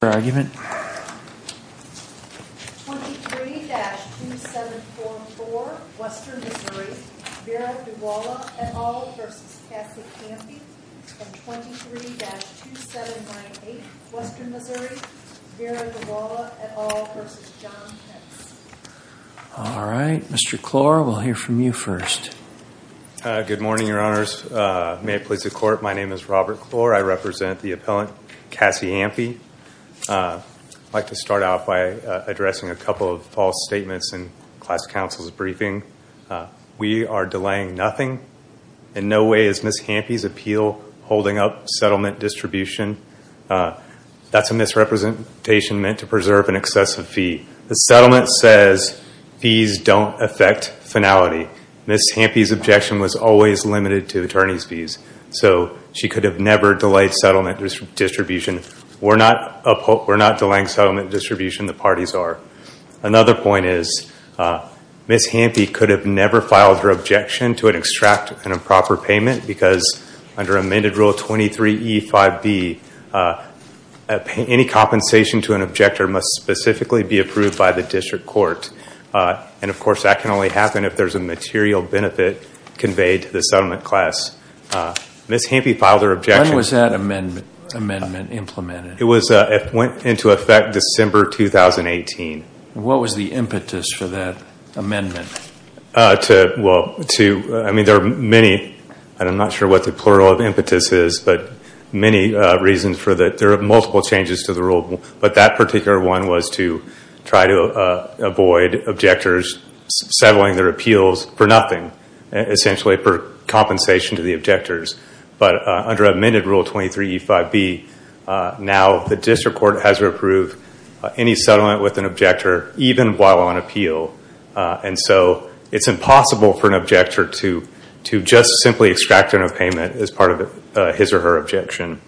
23-2794 Western Missouri, Veera Daruwalla et al. v. Cassie Hampe 23-2798 Western Missouri, Veera Daruwalla et al. v. John Pence I'd like to start out by addressing a couple of false statements in class council's briefing. We are delaying nothing. In no way is Ms. Hampe's appeal holding up settlement distribution. That's a misrepresentation meant to preserve an excessive fee. The settlement says fees don't affect finality. Ms. Hampe's objection was always limited to attorney's fees, so she could have never delayed settlement distribution. We're not delaying settlement distribution. The parties are. Another point is Ms. Hampe could have never filed her objection to an extract and improper payment because under amended rule 23E5B, any compensation to an objector must specifically be approved by the district court. And of course, that can only happen if there's a material benefit conveyed to the settlement class. Ms. Hampe filed her objection. When was that amendment implemented? It went into effect December 2018. What was the impetus for that amendment? Well, I mean, there are many, and I'm not sure what the plural of impetus is, but many reasons for that. There are multiple changes to the rule, but that particular one was to try to avoid objectors settling their appeals for nothing, essentially for compensation to the objectors. But under amended rule 23E5B, now the district court has to approve any settlement with an objector, even while on appeal. And so it's impossible for an objector to just simply extract a payment as part of his or her objection.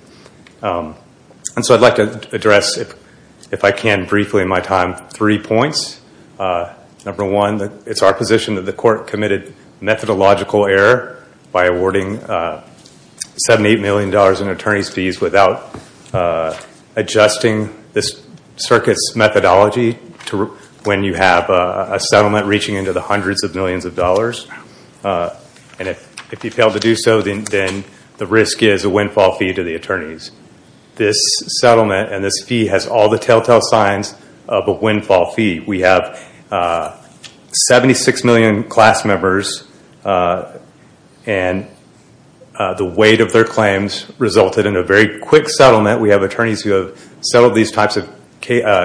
And so I'd like to address, if I can briefly in my time, three points. Number one, it's our position that the court committed methodological error by awarding $78 million in attorney's fees without adjusting this circuit's methodology to when you have a settlement reaching into the hundreds of millions of dollars. And if you fail to do so, then the risk is a windfall fee to the attorneys. This settlement and this fee has all the telltale signs of a windfall fee. We have 76 million class members, and the weight of their claims resulted in a very quick settlement. We have attorneys who have settled these types of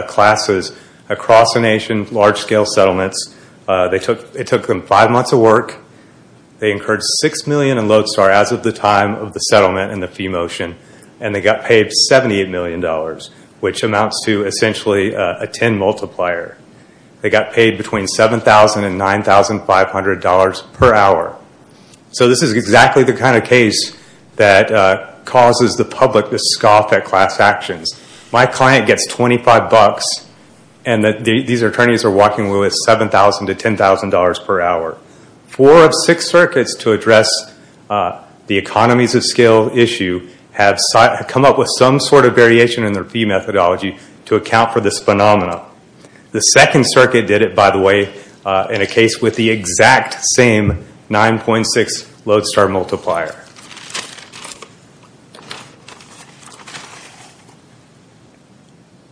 classes across the nation, large-scale settlements. It took them five months of work. They incurred $6 million in lodestar as of the time of the settlement and the fee motion, and they got paid $78 million, which amounts to essentially a 10 multiplier. They got paid between $7,000 and $9,500 per hour. So this is exactly the kind of case that causes the public to scoff at class actions. My client gets $25, and these attorneys are walking away with $7,000 to $10,000 per hour. Four of six circuits to address the economies of scale issue have come up with some sort of variation in their fee methodology to account for this phenomenon. The second circuit did it, by the way, in a case with the exact same 9.6 lodestar multiplier.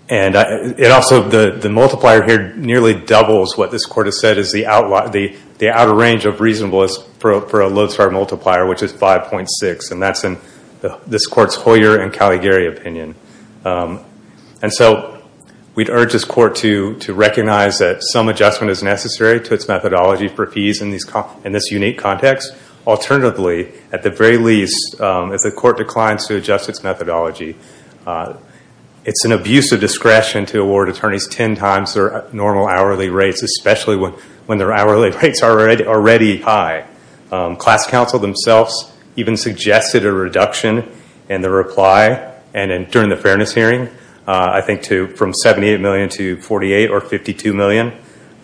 The multiplier here nearly doubles what this court has said is the outer range of reasonableness for a lodestar multiplier, which is 5.6, and that's in this court's Hoyer and Caligari opinion. We'd urge this court to recognize that some adjustment is necessary to its methodology for fees in this unique context. Alternatively, at the very least, if the court declines to adjust its methodology, it's an abuse of discretion to award attorneys 10 times their normal hourly rates, especially when their hourly rates are already high. Class counsel themselves even suggested a reduction in the reply during the fairness hearing, I think from $78 million to $48 or $52 million.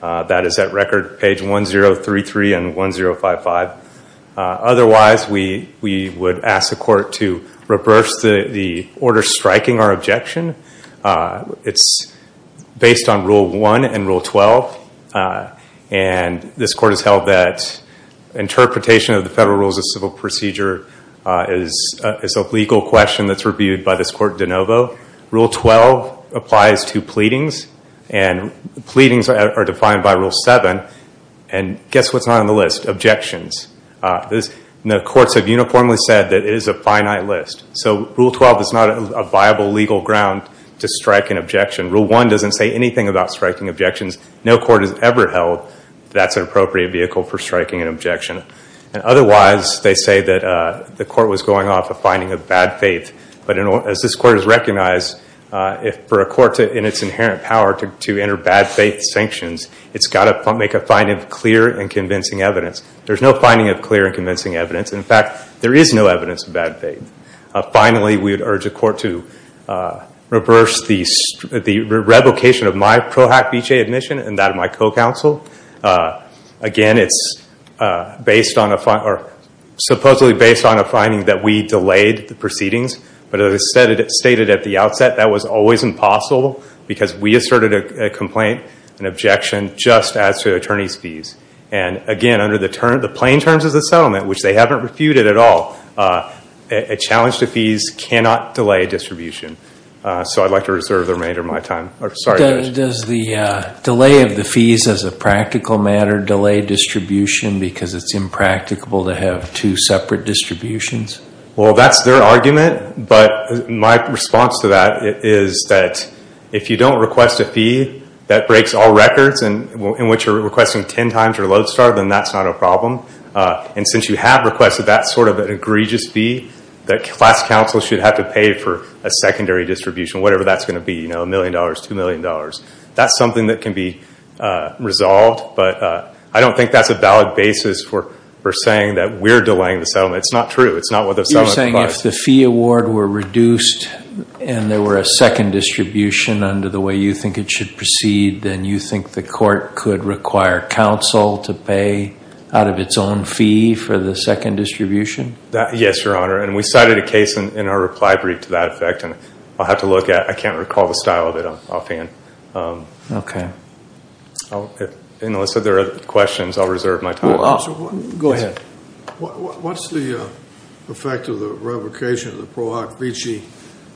That is at record page 1033 and 1055. Otherwise, we would ask the court to reverse the order striking our objection. It's based on Rule 1 and Rule 12, and this court has held that interpretation of the federal rules of civil procedure is a legal question that's reviewed by this court de novo. Rule 12 applies to pleadings, and pleadings are defined by Rule 7, and guess what's not on the list? Objections. The courts have uniformly said that it is a finite list, so Rule 12 is not a viable legal ground to strike an objection. Rule 1 doesn't say anything about striking objections. No court has ever held that's an appropriate vehicle for striking an objection. Otherwise, they say that the court was going off a finding of bad faith, but as this court has recognized, for a court in its inherent power to enter bad faith sanctions, it's got to make a finding of clear and convincing evidence. There's no finding of clear and convincing evidence. In fact, there is no evidence of bad faith. Finally, we would urge the court to reverse the revocation of my PROACT BJA admission and that of my co-counsel. Again, it's supposedly based on a finding that we delayed the proceedings, but as I stated at the outset, that was always impossible because we asserted a complaint, an objection, just as to attorney's fees. And again, under the plain terms of the settlement, which they haven't refuted at all, a challenge to fees cannot delay a distribution. So I'd like to reserve the remainder of my time. Does the delay of the fees as a practical matter delay distribution because it's impracticable to have two separate distributions? Well, that's their argument, but my response to that is that if you don't request a fee that breaks all records in which you're requesting 10 times your load start, then that's not a problem. And since you have requested that sort of an egregious fee, that class counsel should have to pay for a secondary distribution, whatever that's going to be, you know, $1 million, $2 million. That's something that can be resolved, but I don't think that's a valid basis for saying that we're delaying the settlement. It's not true. It's not what the settlement provides. You're saying if the fee award were reduced and there were a second distribution under the way you think it should proceed, then you think the court could require counsel to pay out of its own fee for the second distribution? Yes, Your Honor, and we cited a case in our reply brief to that effect, and I'll have to look at it. I can't recall the style of it offhand. Okay. Unless there are questions, I'll reserve my time. Go ahead. What's the effect of the revocation of the Pro Hoc Vici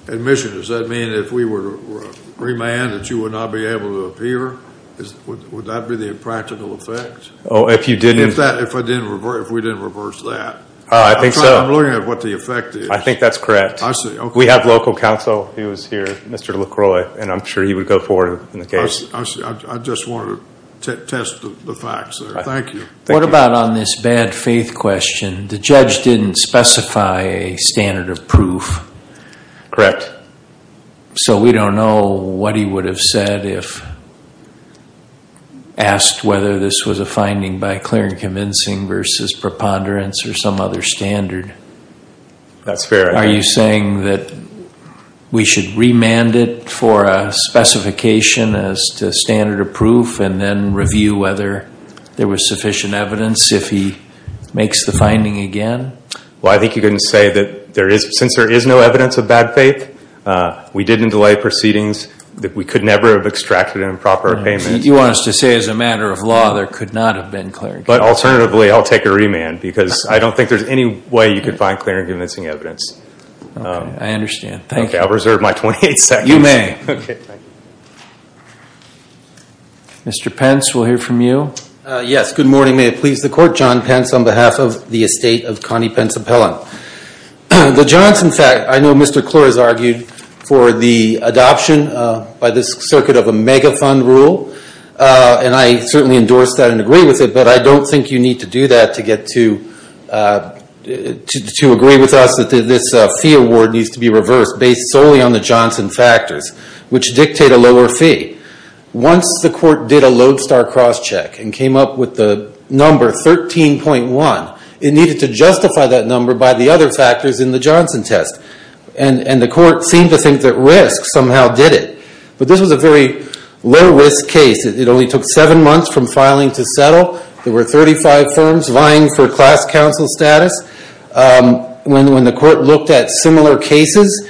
admission? Does that mean if we were to remand that you would not be able to appear? Would that be the practical effect? If we didn't reverse that. I think so. I'm looking at what the effect is. I think that's correct. We have local counsel who is here, Mr. LaCroix, and I'm sure he would go forward in the case. I just wanted to test the facts there. Thank you. What about on this bad faith question? The judge didn't specify a standard of proof. Correct. So we don't know what he would have said if asked whether this was a finding by clear and convincing versus preponderance or some other standard. That's fair. Are you saying that we should remand it for a specification as to standard of proof and then review whether there was sufficient evidence if he makes the finding again? Well, I think you can say that since there is no evidence of bad faith, we didn't delay proceedings. We could never have extracted an improper payment. You want us to say as a matter of law there could not have been clear and convincing. But alternatively, I'll take a remand because I don't think there's any way you could find clear and convincing evidence. I understand. Thank you. I'll reserve my 28 seconds. You may. Okay. Thank you. Mr. Pence, we'll hear from you. Yes. Good morning. May it please the Court. John Pence on behalf of the estate of Connie Pensapella. The Johns, in fact, I know Mr. Klor has argued for the adoption by this circuit of a mega fund rule, and I certainly endorse that and agree with it, but I don't think you need to do that to agree with us that this fee award needs to be reversed based solely on the Johnson factors, which dictate a lower fee. Once the Court did a lodestar crosscheck and came up with the number 13.1, it needed to justify that number by the other factors in the Johnson test, and the Court seemed to think that risk somehow did it. But this was a very low-risk case. It only took seven months from filing to settle. There were 35 firms vying for class council status. When the Court looked at similar cases,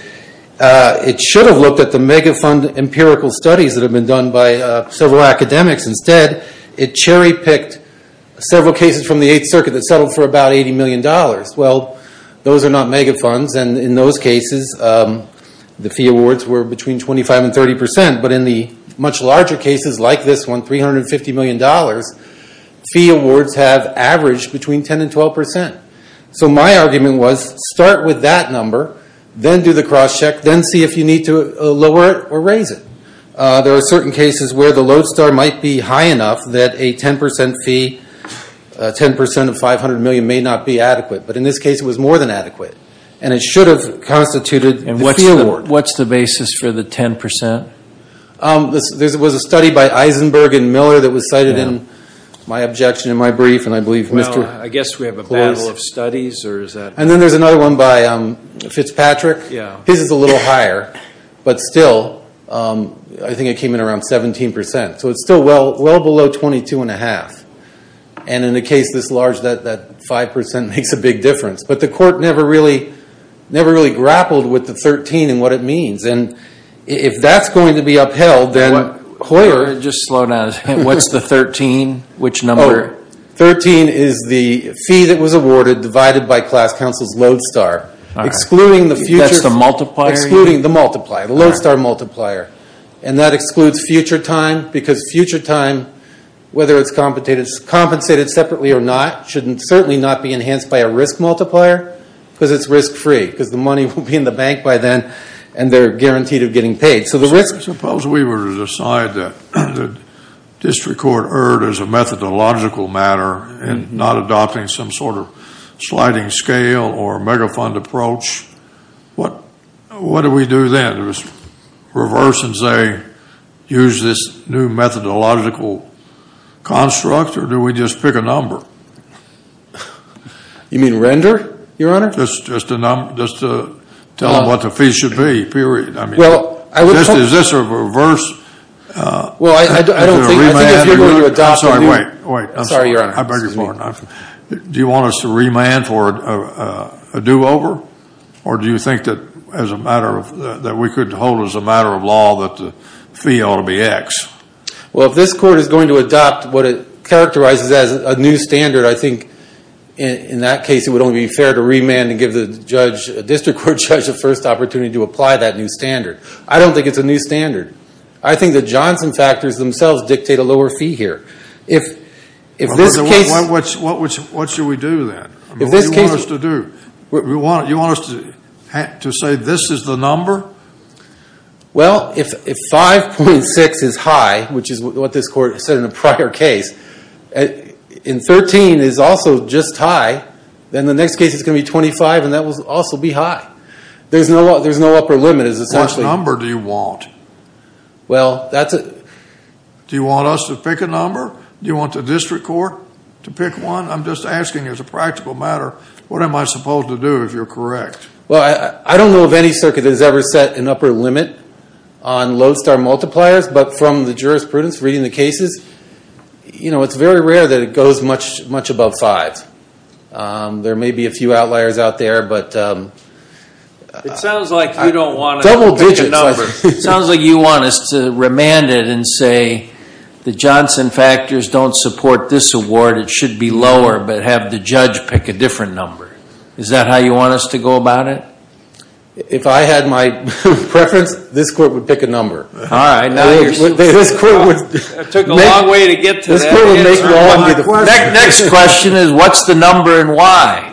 it should have looked at the mega fund empirical studies that have been done by several academics. Instead, it cherry-picked several cases from the Eighth Circuit that settled for about $80 million. Well, those are not mega funds, and in those cases, the fee awards were between 25% and 30%, but in the much larger cases like this one, $350 million, fee awards have averaged between 10% and 12%. So my argument was start with that number, then do the crosscheck, then see if you need to lower it or raise it. There are certain cases where the lodestar might be high enough that a 10% fee, 10% of $500 million may not be adequate, but in this case, it was more than adequate, and it should have constituted the fee award. What's the basis for the 10%? There was a study by Eisenberg and Miller that was cited in my objection in my brief. I guess we have a battle of studies. Then there's another one by Fitzpatrick. His is a little higher, but still, I think it came in around 17%. So it's still well below 22.5%, and in a case this large, that 5% makes a big difference. But the court never really grappled with the 13 and what it means. If that's going to be upheld, then Hoyer— Just slow down. What's the 13? Which number? 13 is the fee that was awarded divided by class counsel's lodestar, excluding the future— That's the multiplier? Excluding the multiplier, the lodestar multiplier. That excludes future time, because future time, whether it's compensated separately or not, should certainly not be enhanced by a risk multiplier, because it's risk-free. Because the money will be in the bank by then, and they're guaranteed of getting paid. So the risk— Suppose we were to decide that the district court erred as a methodological matter and not adopting some sort of sliding scale or megafund approach. What do we do then? Do we just reverse and say, use this new methodological construct, or do we just pick a number? You mean render, Your Honor? Just tell them what the fee should be, period. Well, I would— Is this a reverse— Well, I don't think— I'm sorry, wait, wait. Sorry, Your Honor. I beg your pardon. Do you want us to remand for a do-over? Or do you think that as a matter of—that we could hold as a matter of law that the fee ought to be X? Well, if this court is going to adopt what it characterizes as a new standard, I think in that case it would only be fair to remand and give the district court judge the first opportunity to apply that new standard. I don't think it's a new standard. I think the Johnson factors themselves dictate a lower fee here. If this case— What should we do then? What do you want us to do? You want us to say this is the number? Well, if 5.6 is high, which is what this court said in a prior case, and 13 is also just high, then the next case is going to be 25, and that will also be high. There's no upper limit, essentially. What number do you want? Well, that's a— Do you want us to pick a number? Do you want the district court to pick one? I'm just asking as a practical matter, what am I supposed to do if you're correct? Well, I don't know if any circuit has ever set an upper limit on Lodestar multipliers, but from the jurisprudence reading the cases, it's very rare that it goes much above 5. There may be a few outliers out there, but— It sounds like you don't want us to pick a number. It sounds like you want us to remand it and say the Johnson factors don't support this award. It should be lower, but have the judge pick a different number. Is that how you want us to go about it? If I had my preference, this court would pick a number. All right, now you're— It took a long way to get to that. The next question is, what's the number and why?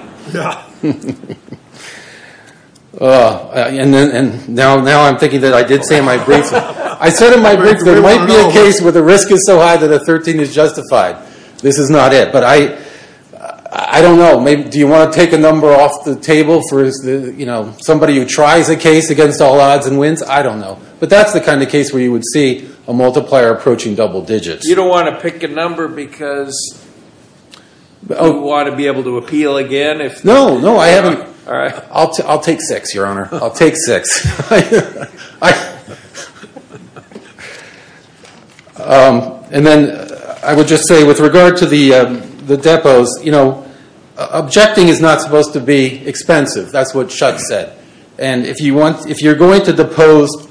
Now I'm thinking that I did say in my brief, I said in my brief there might be a case where the risk is so high that a 13 is justified. This is not it, but I don't know. Do you want to take a number off the table for somebody who tries a case against all odds and wins? I don't know, but that's the kind of case where you would see a multiplier approaching double digits. You don't want to pick a number because you want to be able to appeal again? No, no, I haven't—I'll take six, Your Honor. I'll take six. And then I would just say with regard to the depots, you know, objecting is not supposed to be expensive. That's what Schutz said. And if you're going to depose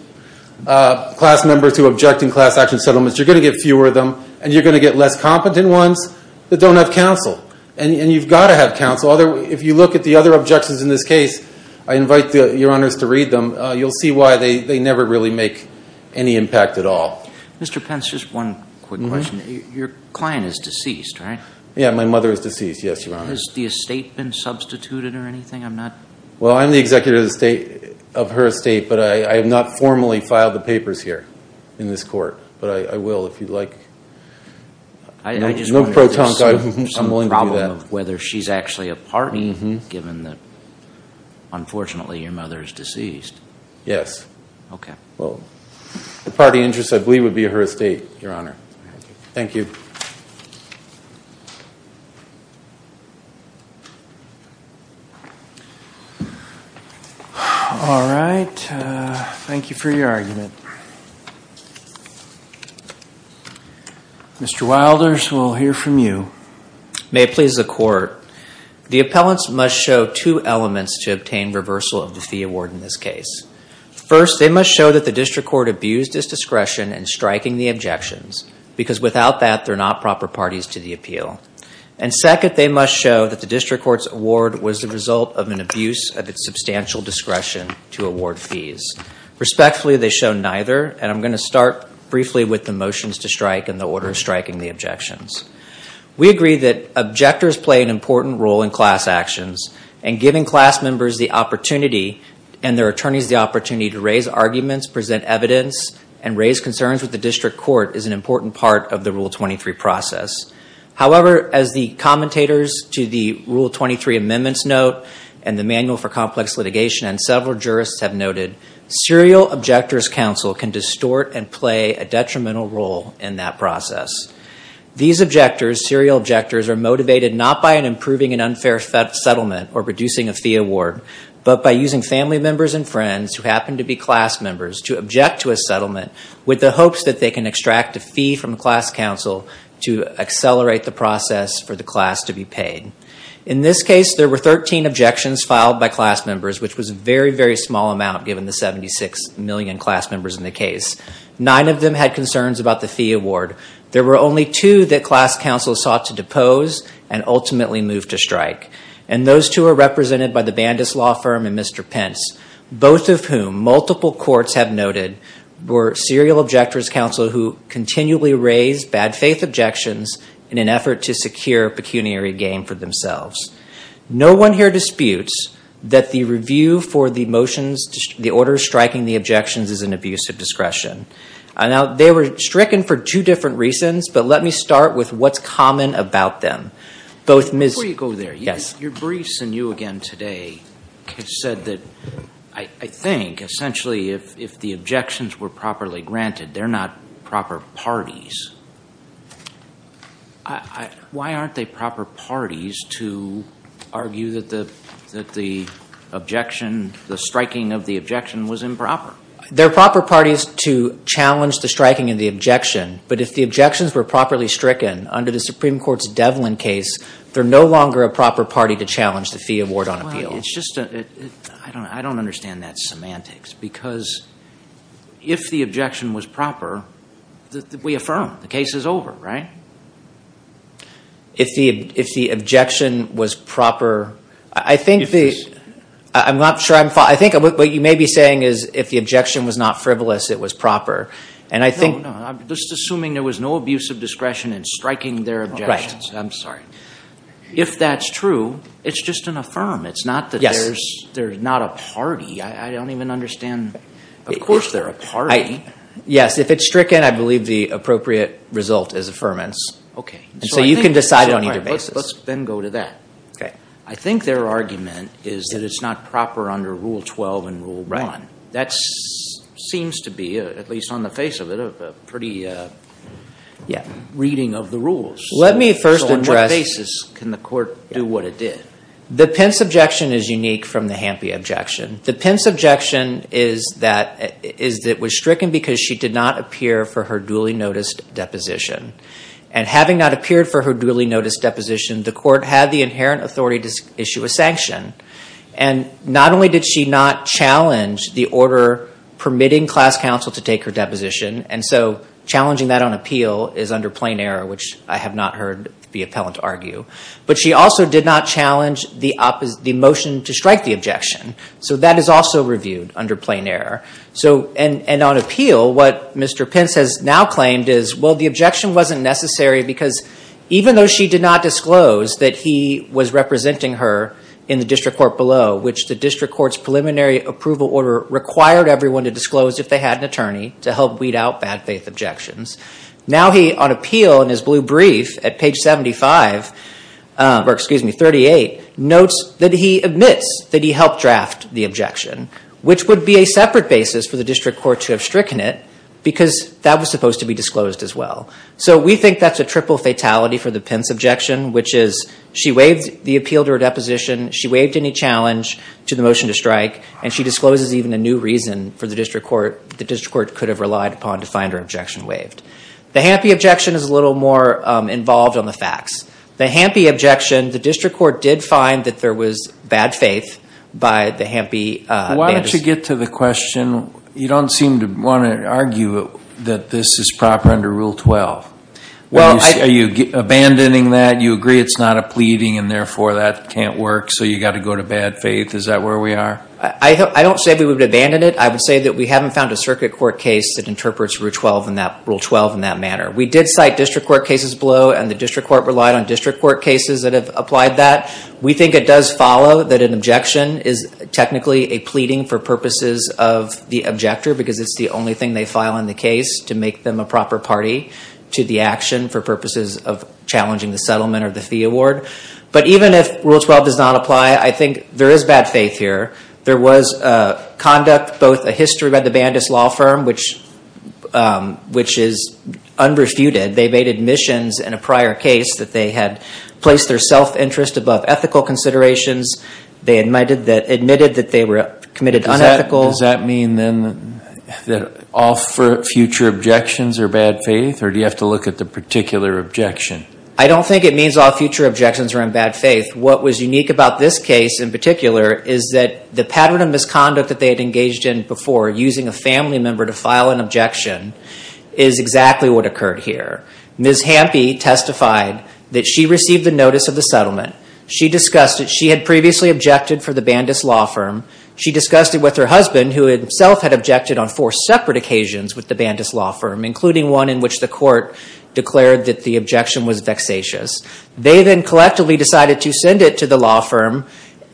class members who object in class action settlements, you're going to get fewer of them, and you're going to get less competent ones that don't have counsel. And you've got to have counsel. If you look at the other objections in this case, I invite Your Honors to read them. You'll see why they never really make any impact at all. Mr. Pence, just one quick question. Your client is deceased, right? Yeah, my mother is deceased, yes, Your Honor. Has the estate been substituted or anything? Well, I'm the executive of her estate, but I have not formally filed the papers here in this court. But I will if you'd like. I just wonder if there's some problem of whether she's actually a party, given that, unfortunately, your mother is deceased. Yes. Okay. Well, the party interest, I believe, would be her estate, Your Honor. Thank you. Thank you. All right. Thank you for your argument. Mr. Wilders, we'll hear from you. May it please the Court. The appellants must show two elements to obtain reversal of the fee award in this case. First, they must show that the district court abused its discretion in striking the objections, because without that, they're not proper parties to the appeal. And second, they must show that the district court's award was the result of an abuse of its substantial discretion to award fees. Respectfully, they show neither, and I'm going to start briefly with the motions to strike and the order striking the objections. We agree that objectors play an important role in class actions, and giving class members the opportunity and their attorneys the opportunity to raise arguments, present evidence, and raise concerns with the district court is an important part of the Rule 23 process. However, as the commentators to the Rule 23 amendments note and the Manual for Complex Litigation and several jurists have noted, serial objectors counsel can distort and play a detrimental role in that process. These objectors, serial objectors, are motivated not by an improving an unfair settlement or producing a fee award, but by using family members and friends who happen to be class members to object to a settlement with the hopes that they can extract a fee from class counsel to accelerate the process for the class to be paid. In this case, there were 13 objections filed by class members, which was a very, very small amount given the 76 million class members in the case. Nine of them had concerns about the fee award. There were only two that class counsel sought to depose and ultimately move to strike, and those two are represented by the Bandus Law Firm and Mr. Pence, both of whom multiple courts have noted were serial objectors counsel who continually raised bad faith objections in an effort to secure pecuniary gain for themselves. No one here disputes that the review for the order striking the objections is an abuse of discretion. Now, they were stricken for two different reasons, but let me start with what's common about them. Before you go there, your briefs and you again today have said that I think essentially if the objections were properly granted, they're not proper parties. Why aren't they proper parties to argue that the objection, the striking of the objection was improper? They're proper parties to challenge the striking of the objection, but if the objections were properly stricken under the Supreme Court's Devlin case, they're no longer a proper party to challenge the fee award on appeal. I don't understand that semantics because if the objection was proper, we affirm the case is over, right? If the objection was proper, I think what you may be saying is if the objection was not frivolous, it was proper. I'm just assuming there was no abuse of discretion in striking their objections. I'm sorry. If that's true, it's just an affirm. It's not that they're not a party. I don't even understand. Of course they're a party. Yes, if it's stricken, I believe the appropriate result is affirmance. So you can decide it on either basis. Let's then go to that. I think their argument is that it's not proper under Rule 12 and Rule 1. That seems to be, at least on the face of it, a pretty reading of the rules. So on what basis can the court do what it did? The Pence objection is unique from the Hampey objection. The Pence objection is that it was stricken because she did not appear for her duly noticed deposition. And having not appeared for her duly noticed deposition, the court had the inherent authority to issue a sanction. And not only did she not challenge the order permitting class counsel to take her deposition, and so challenging that on appeal is under plain error, which I have not heard the appellant argue, but she also did not challenge the motion to strike the objection. So that is also reviewed under plain error. And on appeal, what Mr. Pence has now claimed is, well, the objection wasn't necessary because even though she did not disclose that he was representing her in the district court below, which the district court's preliminary approval order required everyone to disclose if they had an attorney to help weed out bad faith objections, now he, on appeal in his blue brief at page 75, or excuse me, 38, notes that he admits that he helped draft the objection, which would be a separate basis for the district court to have stricken it because that was supposed to be disclosed as well. So we think that's a triple fatality for the Pence objection, which is she waived the appeal to her deposition, she waived any challenge to the motion to strike, and she discloses even a new reason for the district court could have relied upon to find her objection waived. The Hampe objection is a little more involved on the facts. The Hampe objection, the district court did find that there was bad faith by the Hampe. Why don't you get to the question? You don't seem to want to argue that this is proper under Rule 12. Are you abandoning that? You agree it's not a pleading and therefore that can't work, so you've got to go to bad faith. Is that where we are? I don't say we would abandon it. I would say that we haven't found a circuit court case that interprets Rule 12 in that manner. We did cite district court cases below, and the district court relied on district court cases that have applied that. We think it does follow that an objection is technically a pleading for purposes of the objector because it's the only thing they file in the case to make them a proper party to the action for purposes of challenging the settlement or the fee award. But even if Rule 12 does not apply, I think there is bad faith here. There was conduct, both a history by the Bandis law firm, which is unrefuted. They made admissions in a prior case that they had placed their self-interest above ethical considerations. They admitted that they were committed unethical. Does that mean then that all future objections are bad faith, or do you have to look at the particular objection? I don't think it means all future objections are in bad faith. What was unique about this case in particular is that the pattern of misconduct that they had engaged in before, using a family member to file an objection, is exactly what occurred here. Ms. Hampe testified that she received the notice of the settlement. She discussed it. She had previously objected for the Bandis law firm. She discussed it with her husband, who himself had objected on four separate occasions with the Bandis law firm, including one in which the court declared that the objection was vexatious. They then collectively decided to send it to the law firm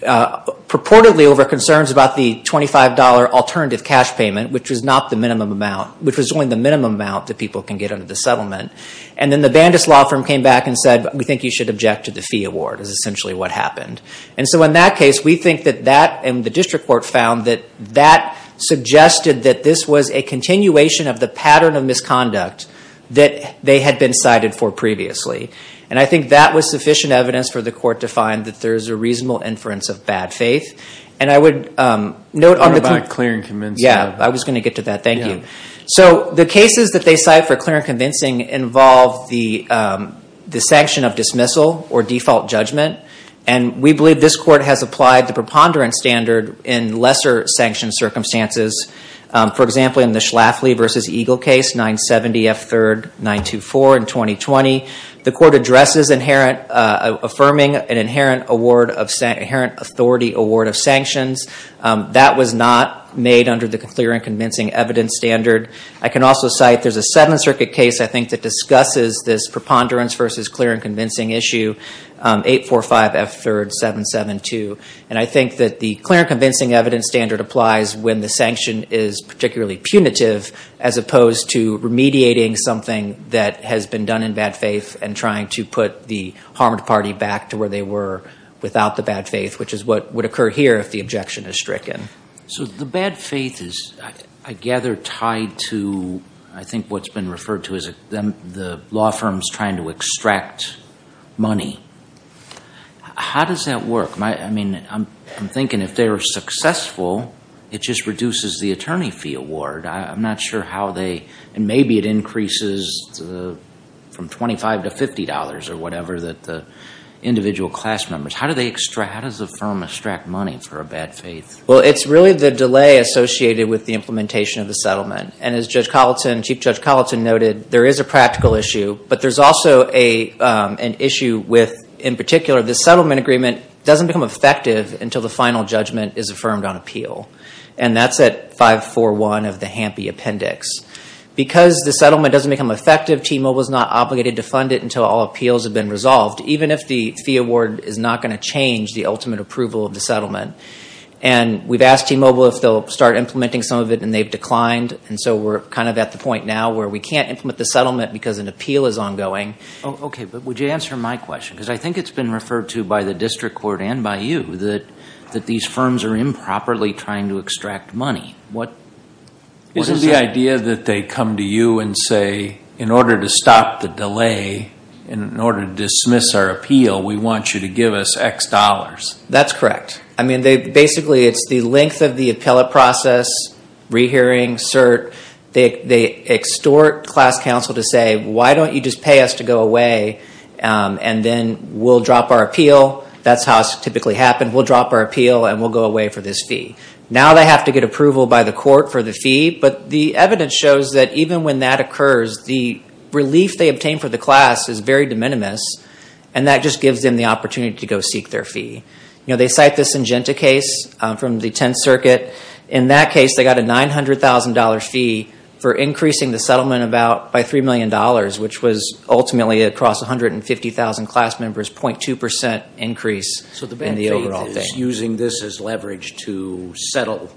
purportedly over concerns about the $25 alternative cash payment, which was not the minimum amount, which was only the minimum amount that people can get under the settlement. Then the Bandis law firm came back and said, we think you should object to the fee award, is essentially what happened. In that case, we think that that, and the district court found that that suggested that this was a continuation of the pattern of misconduct that they had been cited for previously. And I think that was sufficient evidence for the court to find that there is a reasonable inference of bad faith. And I would note on the- About clear and convincing. Yeah, I was going to get to that. Thank you. So the cases that they cite for clear and convincing involve the sanction of dismissal or default judgment. And we believe this court has applied the preponderance standard in lesser sanctioned circumstances. For example, in the Schlafly v. Eagle case, 970F3-924 in 2020, the court addresses affirming an inherent authority award of sanctions. That was not made under the clear and convincing evidence standard. I can also cite, there's a Seventh Circuit case, I think, that discusses this preponderance versus clear and convincing issue, 845F3-772. And I think that the clear and convincing evidence standard applies when the sanction is particularly punitive, as opposed to remediating something that has been done in bad faith and trying to put the harmed party back to where they were without the bad faith, which is what would occur here if the objection is stricken. So the bad faith is, I gather, tied to, I think what's been referred to as the law firms trying to extract money. How does that work? I mean, I'm thinking if they were successful, it just reduces the attorney fee award. I'm not sure how they, and maybe it increases from $25 to $50 or whatever that the individual class members, how does the firm extract money for a bad faith? Well, it's really the delay associated with the implementation of the settlement. And as Judge Colleton, Chief Judge Colleton noted, there is a practical issue, but there's also an issue with, in particular, the settlement agreement doesn't become effective until the final judgment is affirmed on appeal. And that's at 541 of the Hampe Appendix. Because the settlement doesn't become effective, T-Mobile is not obligated to fund it until all appeals have been resolved, even if the fee award is not going to change the ultimate approval of the settlement. And we've asked T-Mobile if they'll start implementing some of it, and they've declined. And so we're kind of at the point now where we can't implement the settlement because an appeal is ongoing. Okay, but would you answer my question? Because I think it's been referred to by the district court and by you that these firms are improperly trying to extract money. Isn't the idea that they come to you and say, in order to stop the delay, in order to dismiss our appeal, we want you to give us X dollars? That's correct. I mean, basically, it's the length of the appellate process, rehearing, cert. They extort class counsel to say, why don't you just pay us to go away, and then we'll drop our appeal. That's how it typically happens. We'll drop our appeal, and we'll go away for this fee. Now they have to get approval by the court for the fee, but the evidence shows that even when that occurs, the relief they obtain for the class is very de minimis, and that just gives them the opportunity to go seek their fee. They cite the Syngenta case from the Tenth Circuit. In that case, they got a $900,000 fee for increasing the settlement by $3 million, which was ultimately across 150,000 class members, 0.2% increase in the overall fee. So the bad faith is using this as leverage to settle?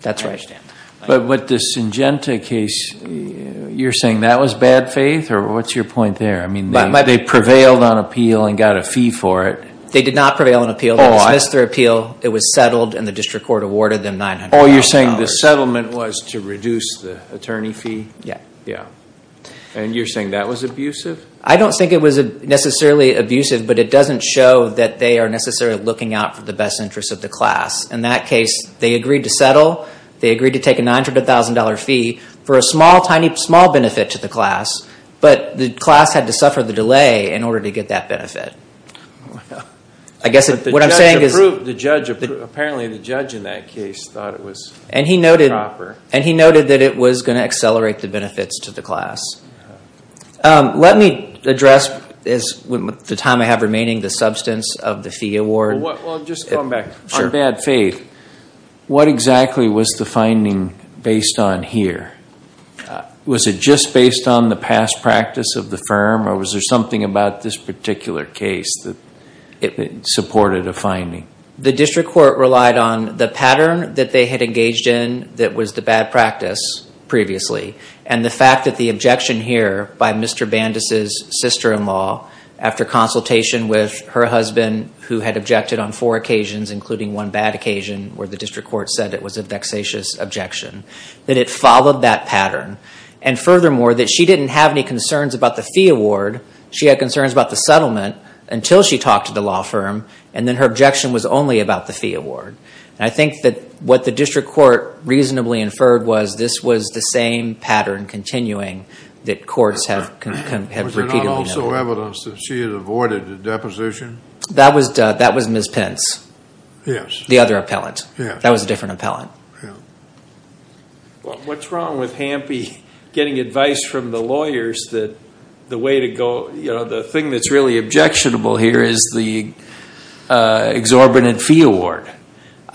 That's right. But with the Syngenta case, you're saying that was bad faith, or what's your point there? I mean, they prevailed on appeal and got a fee for it. They did not prevail on appeal. They dismissed their appeal. It was settled, and the district court awarded them $900,000. Oh, you're saying the settlement was to reduce the attorney fee? Yeah. Yeah. And you're saying that was abusive? I don't think it was necessarily abusive, but it doesn't show that they are necessarily looking out for the best interests of the class. In that case, they agreed to settle. But the class had to suffer the delay in order to get that benefit. I guess what I'm saying is the judge approved. Apparently, the judge in that case thought it was proper. And he noted that it was going to accelerate the benefits to the class. Let me address, with the time I have remaining, the substance of the fee award. Well, just going back. Sure. On bad faith, what exactly was the finding based on here? Was it just based on the past practice of the firm, or was there something about this particular case that supported a finding? The district court relied on the pattern that they had engaged in that was the bad practice previously, and the fact that the objection here by Mr. Bandus' sister-in-law, after consultation with her husband, who had objected on four occasions, including one bad occasion where the district court said it was a vexatious objection, that it followed that pattern. And furthermore, that she didn't have any concerns about the fee award. She had concerns about the settlement until she talked to the law firm, and then her objection was only about the fee award. And I think that what the district court reasonably inferred was this was the same pattern continuing that courts have repeatedly noted. Was there not also evidence that she had avoided the deposition? That was Ms. Pence. Yes. The other appellant. Yes. That was a different appellant. What's wrong with Hampe getting advice from the lawyers that the way to go, the thing that's really objectionable here is the exorbitant fee award?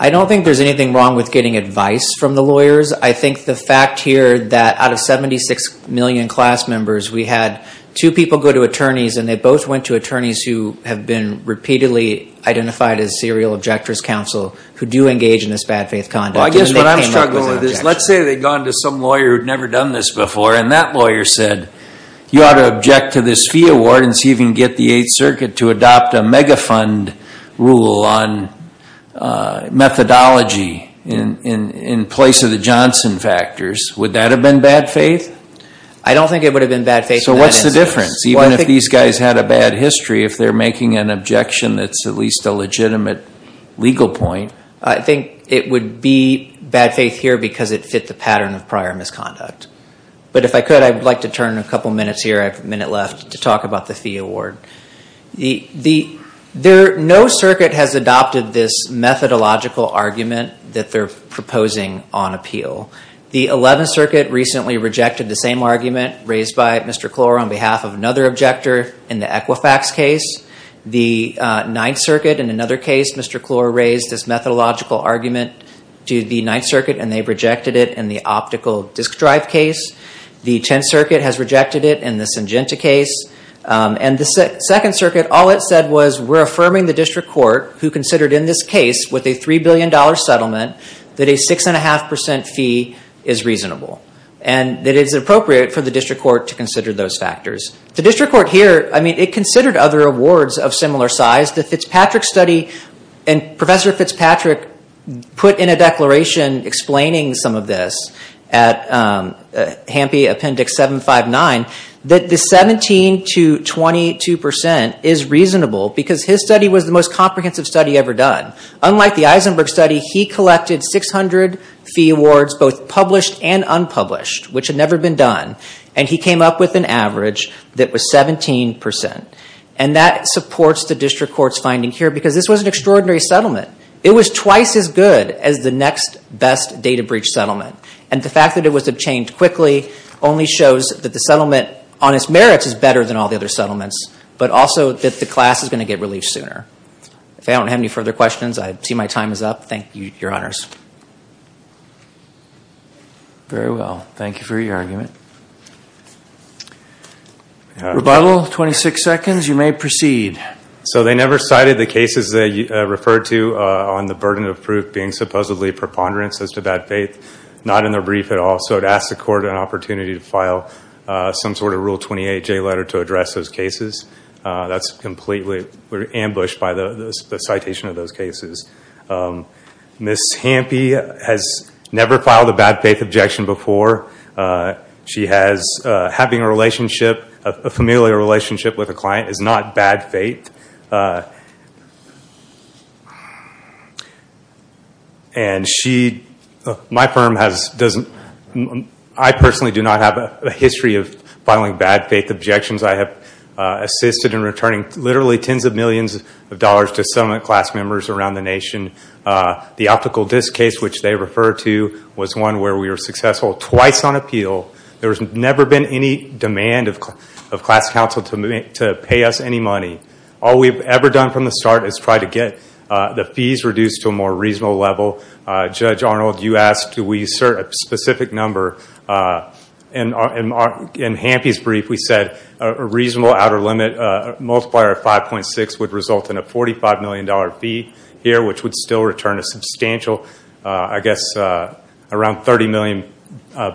I don't think there's anything wrong with getting advice from the lawyers. I think the fact here that out of 76 million class members, we had two people go to attorneys, and they both went to attorneys who have been repeatedly identified as serial objector's counsel who do engage in this bad faith conduct. Well, I guess what I'm struggling with is let's say they'd gone to some lawyer who'd never done this before, and that lawyer said you ought to object to this fee award and see if you can get the Eighth Circuit to adopt a mega fund rule on methodology in place of the Johnson factors. Would that have been bad faith? I don't think it would have been bad faith in that instance. So what's the difference? Even if these guys had a bad history, if they're making an objection that's at least a legitimate legal point. I think it would be bad faith here because it fit the pattern of prior misconduct. But if I could, I would like to turn a couple minutes here. I have a minute left to talk about the fee award. No circuit has adopted this methodological argument that they're proposing on appeal. The Eleventh Circuit recently rejected the same argument raised by Mr. Klor on behalf of another objector in the Equifax case. The Ninth Circuit, in another case, Mr. Klor raised this methodological argument to the Ninth Circuit, and they rejected it in the optical disk drive case. The Tenth Circuit has rejected it in the Syngenta case. And the Second Circuit, all it said was we're affirming the district court who considered in this case with a $3 billion settlement that a 6.5% fee is reasonable and that it is appropriate for the district court to consider those factors. The district court here, I mean, it considered other awards of similar size. The Fitzpatrick study, and Professor Fitzpatrick put in a declaration explaining some of this at Hampy Appendix 759 that the 17 to 22% is reasonable because his study was the most comprehensive study ever done. Unlike the Eisenberg study, he collected 600 fee awards, both published and unpublished, which had never been done. And he came up with an average that was 17%. And that supports the district court's finding here because this was an extraordinary settlement. It was twice as good as the next best data breach settlement. And the fact that it was obtained quickly only shows that the settlement on its merits is better than all the other settlements, but also that the class is going to get relief sooner. If I don't have any further questions, I see my time is up. Thank you, Your Honors. Very well. Thank you for your argument. Rebuttal, 26 seconds. You may proceed. So they never cited the cases they referred to on the burden of proof being supposedly preponderance as to bad faith, not in their brief at all. So to ask the court an opportunity to file some sort of Rule 28J letter to address those cases, that's completely ambushed by the citation of those cases. Ms. Hampy has never filed a bad faith objection before. She has having a relationship, a familiar relationship with a client is not bad faith. And she, my firm, I personally do not have a history of filing bad faith objections. I have assisted in returning literally tens of millions of dollars to settlement class members around the nation. The optical disk case, which they referred to, was one where we were successful twice on appeal. There's never been any demand of class counsel to pay us any money. All we've ever done from the start is try to get the fees reduced to a more reasonable level. Judge Arnold, you asked, do we assert a specific number? In Hampy's brief, we said a reasonable outer limit multiplier of 5.6 would result in a $45 million fee here, which would still return a substantial, I guess, around $30 million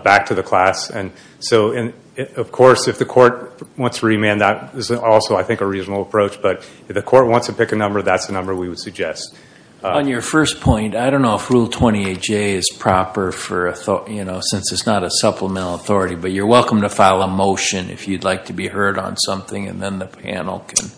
back to the class. And so, of course, if the court wants to remand that, this is also, I think, a reasonable approach. But if the court wants to pick a number, that's the number we would suggest. On your first point, I don't know if Rule 28J is proper since it's not a supplemental authority, but you're welcome to file a motion if you'd like to be heard on something, and then the panel can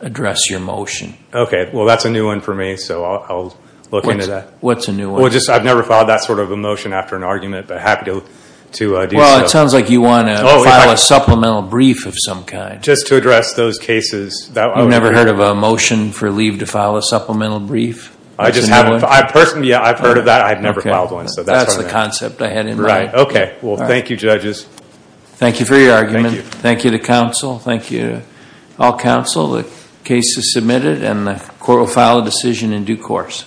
address your motion. Okay. Well, that's a new one for me, so I'll look into that. What's a new one? Well, I've never filed that sort of a motion after an argument, but happy to do so. Well, it sounds like you want to file a supplemental brief of some kind. Just to address those cases. You've never heard of a motion for leave to file a supplemental brief? Personally, I've heard of that. I've never filed one. That's the concept I had in mind. Right. Okay. Well, thank you, judges. Thank you for your argument. Thank you. Thank you to counsel. Thank you to all counsel. The case is submitted, and the court will file a decision in due course.